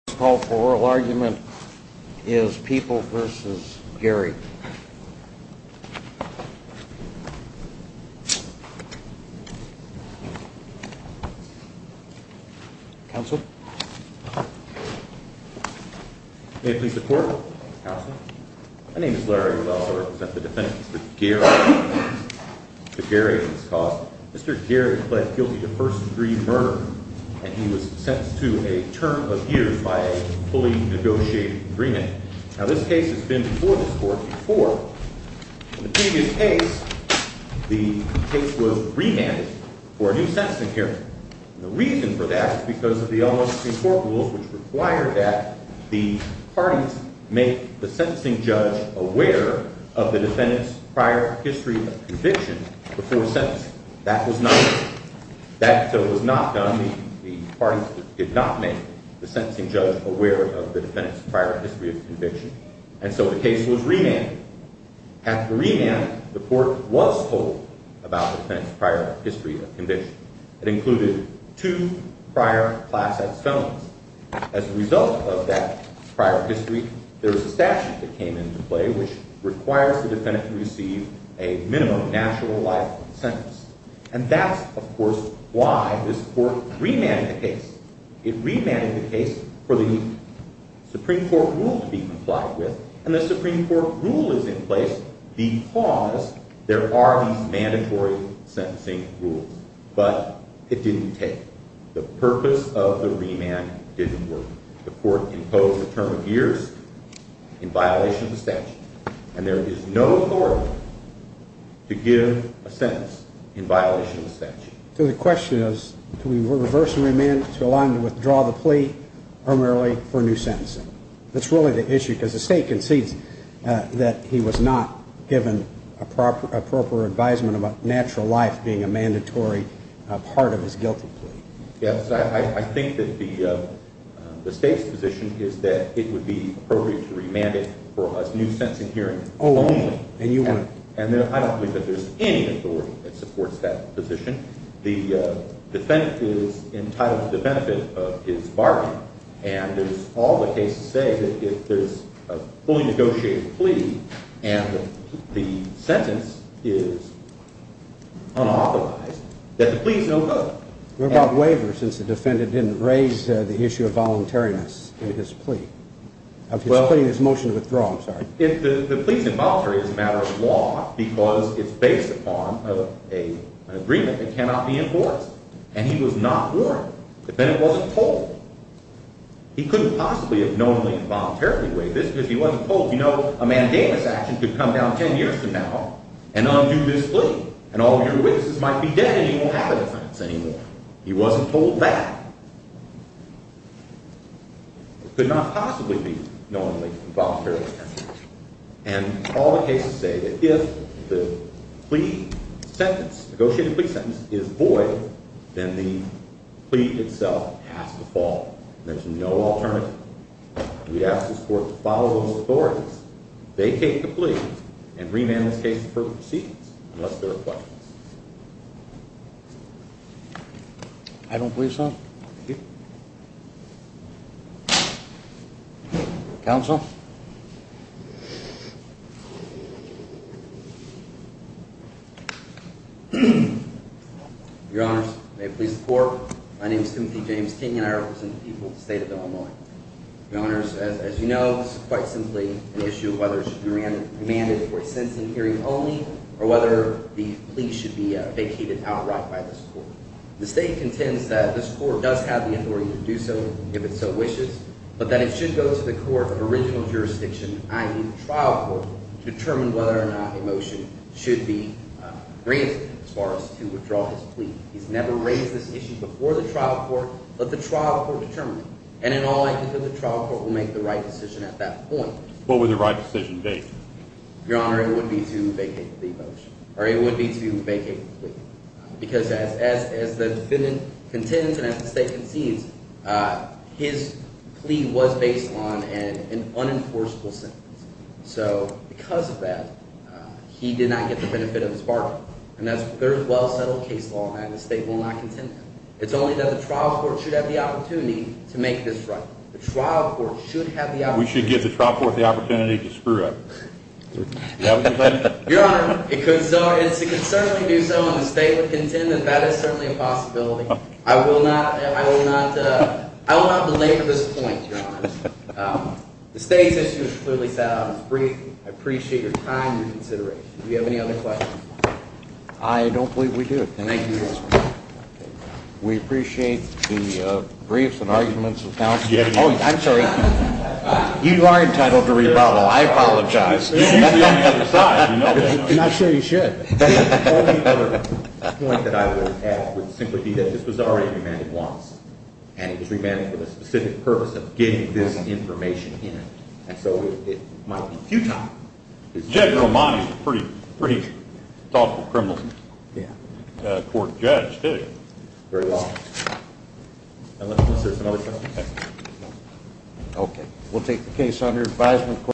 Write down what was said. The first call for oral argument is People v. Gary. Counsel? May it please the Court? Counsel? My name is Larry. I also represent the defense of Gary and his cause. Mr. Gary pled guilty to first-degree murder, and he was sentenced to a term of years by a fully negotiated agreement. Now, this case has been before this Court before. In the previous case, the case was remanded for a new sentencing hearing. The reason for that is because of the almost same court rules which require that the parties make the sentencing judge aware of the defendant's prior history of conviction before sentencing. That was not done. So it was not done. The parties did not make the sentencing judge aware of the defendant's prior history of conviction. And so the case was remanded. After remand, the Court was told about the defendant's prior history of conviction. It included two prior class X felons. As a result of that prior history, there was a statute that came into play which requires the defendant to receive a minimum natural life sentence. And that's, of course, why this Court remanded the case. It remanded the case for the Supreme Court rule to be complied with, and the Supreme Court rule is in place because there are these mandatory sentencing rules. But it didn't take. The purpose of the remand didn't work. The Court imposed a term of years in violation of the statute, and there is no authority to give a sentence in violation of the statute. So the question is, do we reverse the remand to allow him to withdraw the plea primarily for a new sentencing? That's really the issue, because the State concedes that he was not given appropriate advisement about natural life being a mandatory part of his guilty plea. Yes, I think that the State's position is that it would be appropriate to remand it for a new sentencing hearing only. Oh, and you wouldn't? And I don't believe that there's any authority that supports that position. The defendant is entitled to the benefit of his bargain. And there's all the cases say that if there's a fully negotiated plea and the sentence is unauthorized, that the plea is no further. What about waiver, since the defendant didn't raise the issue of voluntariness in his plea? Of his plea and his motion to withdraw, I'm sorry. The plea's involuntary as a matter of law, because it's based upon an agreement that cannot be enforced. And he was not warned. The defendant wasn't told. He couldn't possibly have knownly and voluntarily waived this, because he wasn't told, you know, a mandamus action could come down 10 years from now and undo this plea. And all of your witnesses might be dead, and he won't have a defense anymore. He wasn't told that. It could not possibly be knowingly and voluntarily. And all the cases say that if the plea sentence, negotiated plea sentence, is void, then the plea itself has to fall. There's no alternative. We ask this court to follow those authorities. They take the plea and remand this case to further proceedings, unless there are questions. I don't believe so. Thank you. Counsel? Your Honors, may it please the court, my name is Timothy James King, and I represent the people of the state of Illinois. Your Honors, as you know, this is quite simply an issue of whether it should be remanded for a sentencing hearing only or whether the plea should be vacated outright by this court. The state contends that this court does have the authority to do so if it so wishes, but that it should go to the court of original jurisdiction, i.e., the trial court, to determine whether or not a motion should be granted as far as to withdraw his plea. He's never raised this issue before the trial court, but the trial court determined it. And in all likelihood, the trial court will make the right decision at that point. What would the right decision be? Your Honor, it would be to vacate the motion, or it would be to vacate the plea. Because as the defendant contends and as the state concedes, his plea was based on an unenforceable sentence. So because of that, he did not get the benefit of his bargain. And that's a very well-settled case law, and the state will not contend that. It's only that the trial court should have the opportunity to make this right. The trial court should have the opportunity. We should give the trial court the opportunity to screw up. Your Honor, it could certainly do so, and the state would contend that that is certainly a possibility. I will not belabor this point, Your Honor. The state's issue is clearly set out as briefly. I appreciate your time and your consideration. Do you have any other questions? I don't believe we do. We appreciate the briefs and arguments of counsel. Oh, I'm sorry. You are entitled to rebuttal. I apologize. You're not sure you should. The only other point that I would add would simply be that this was already remanded once, and it was remanded for the specific purpose of getting this information in. And so it might be futile. Judge Romani is a pretty thoughtful criminal court judge, too. Very well. Okay, we'll take the case under advisement.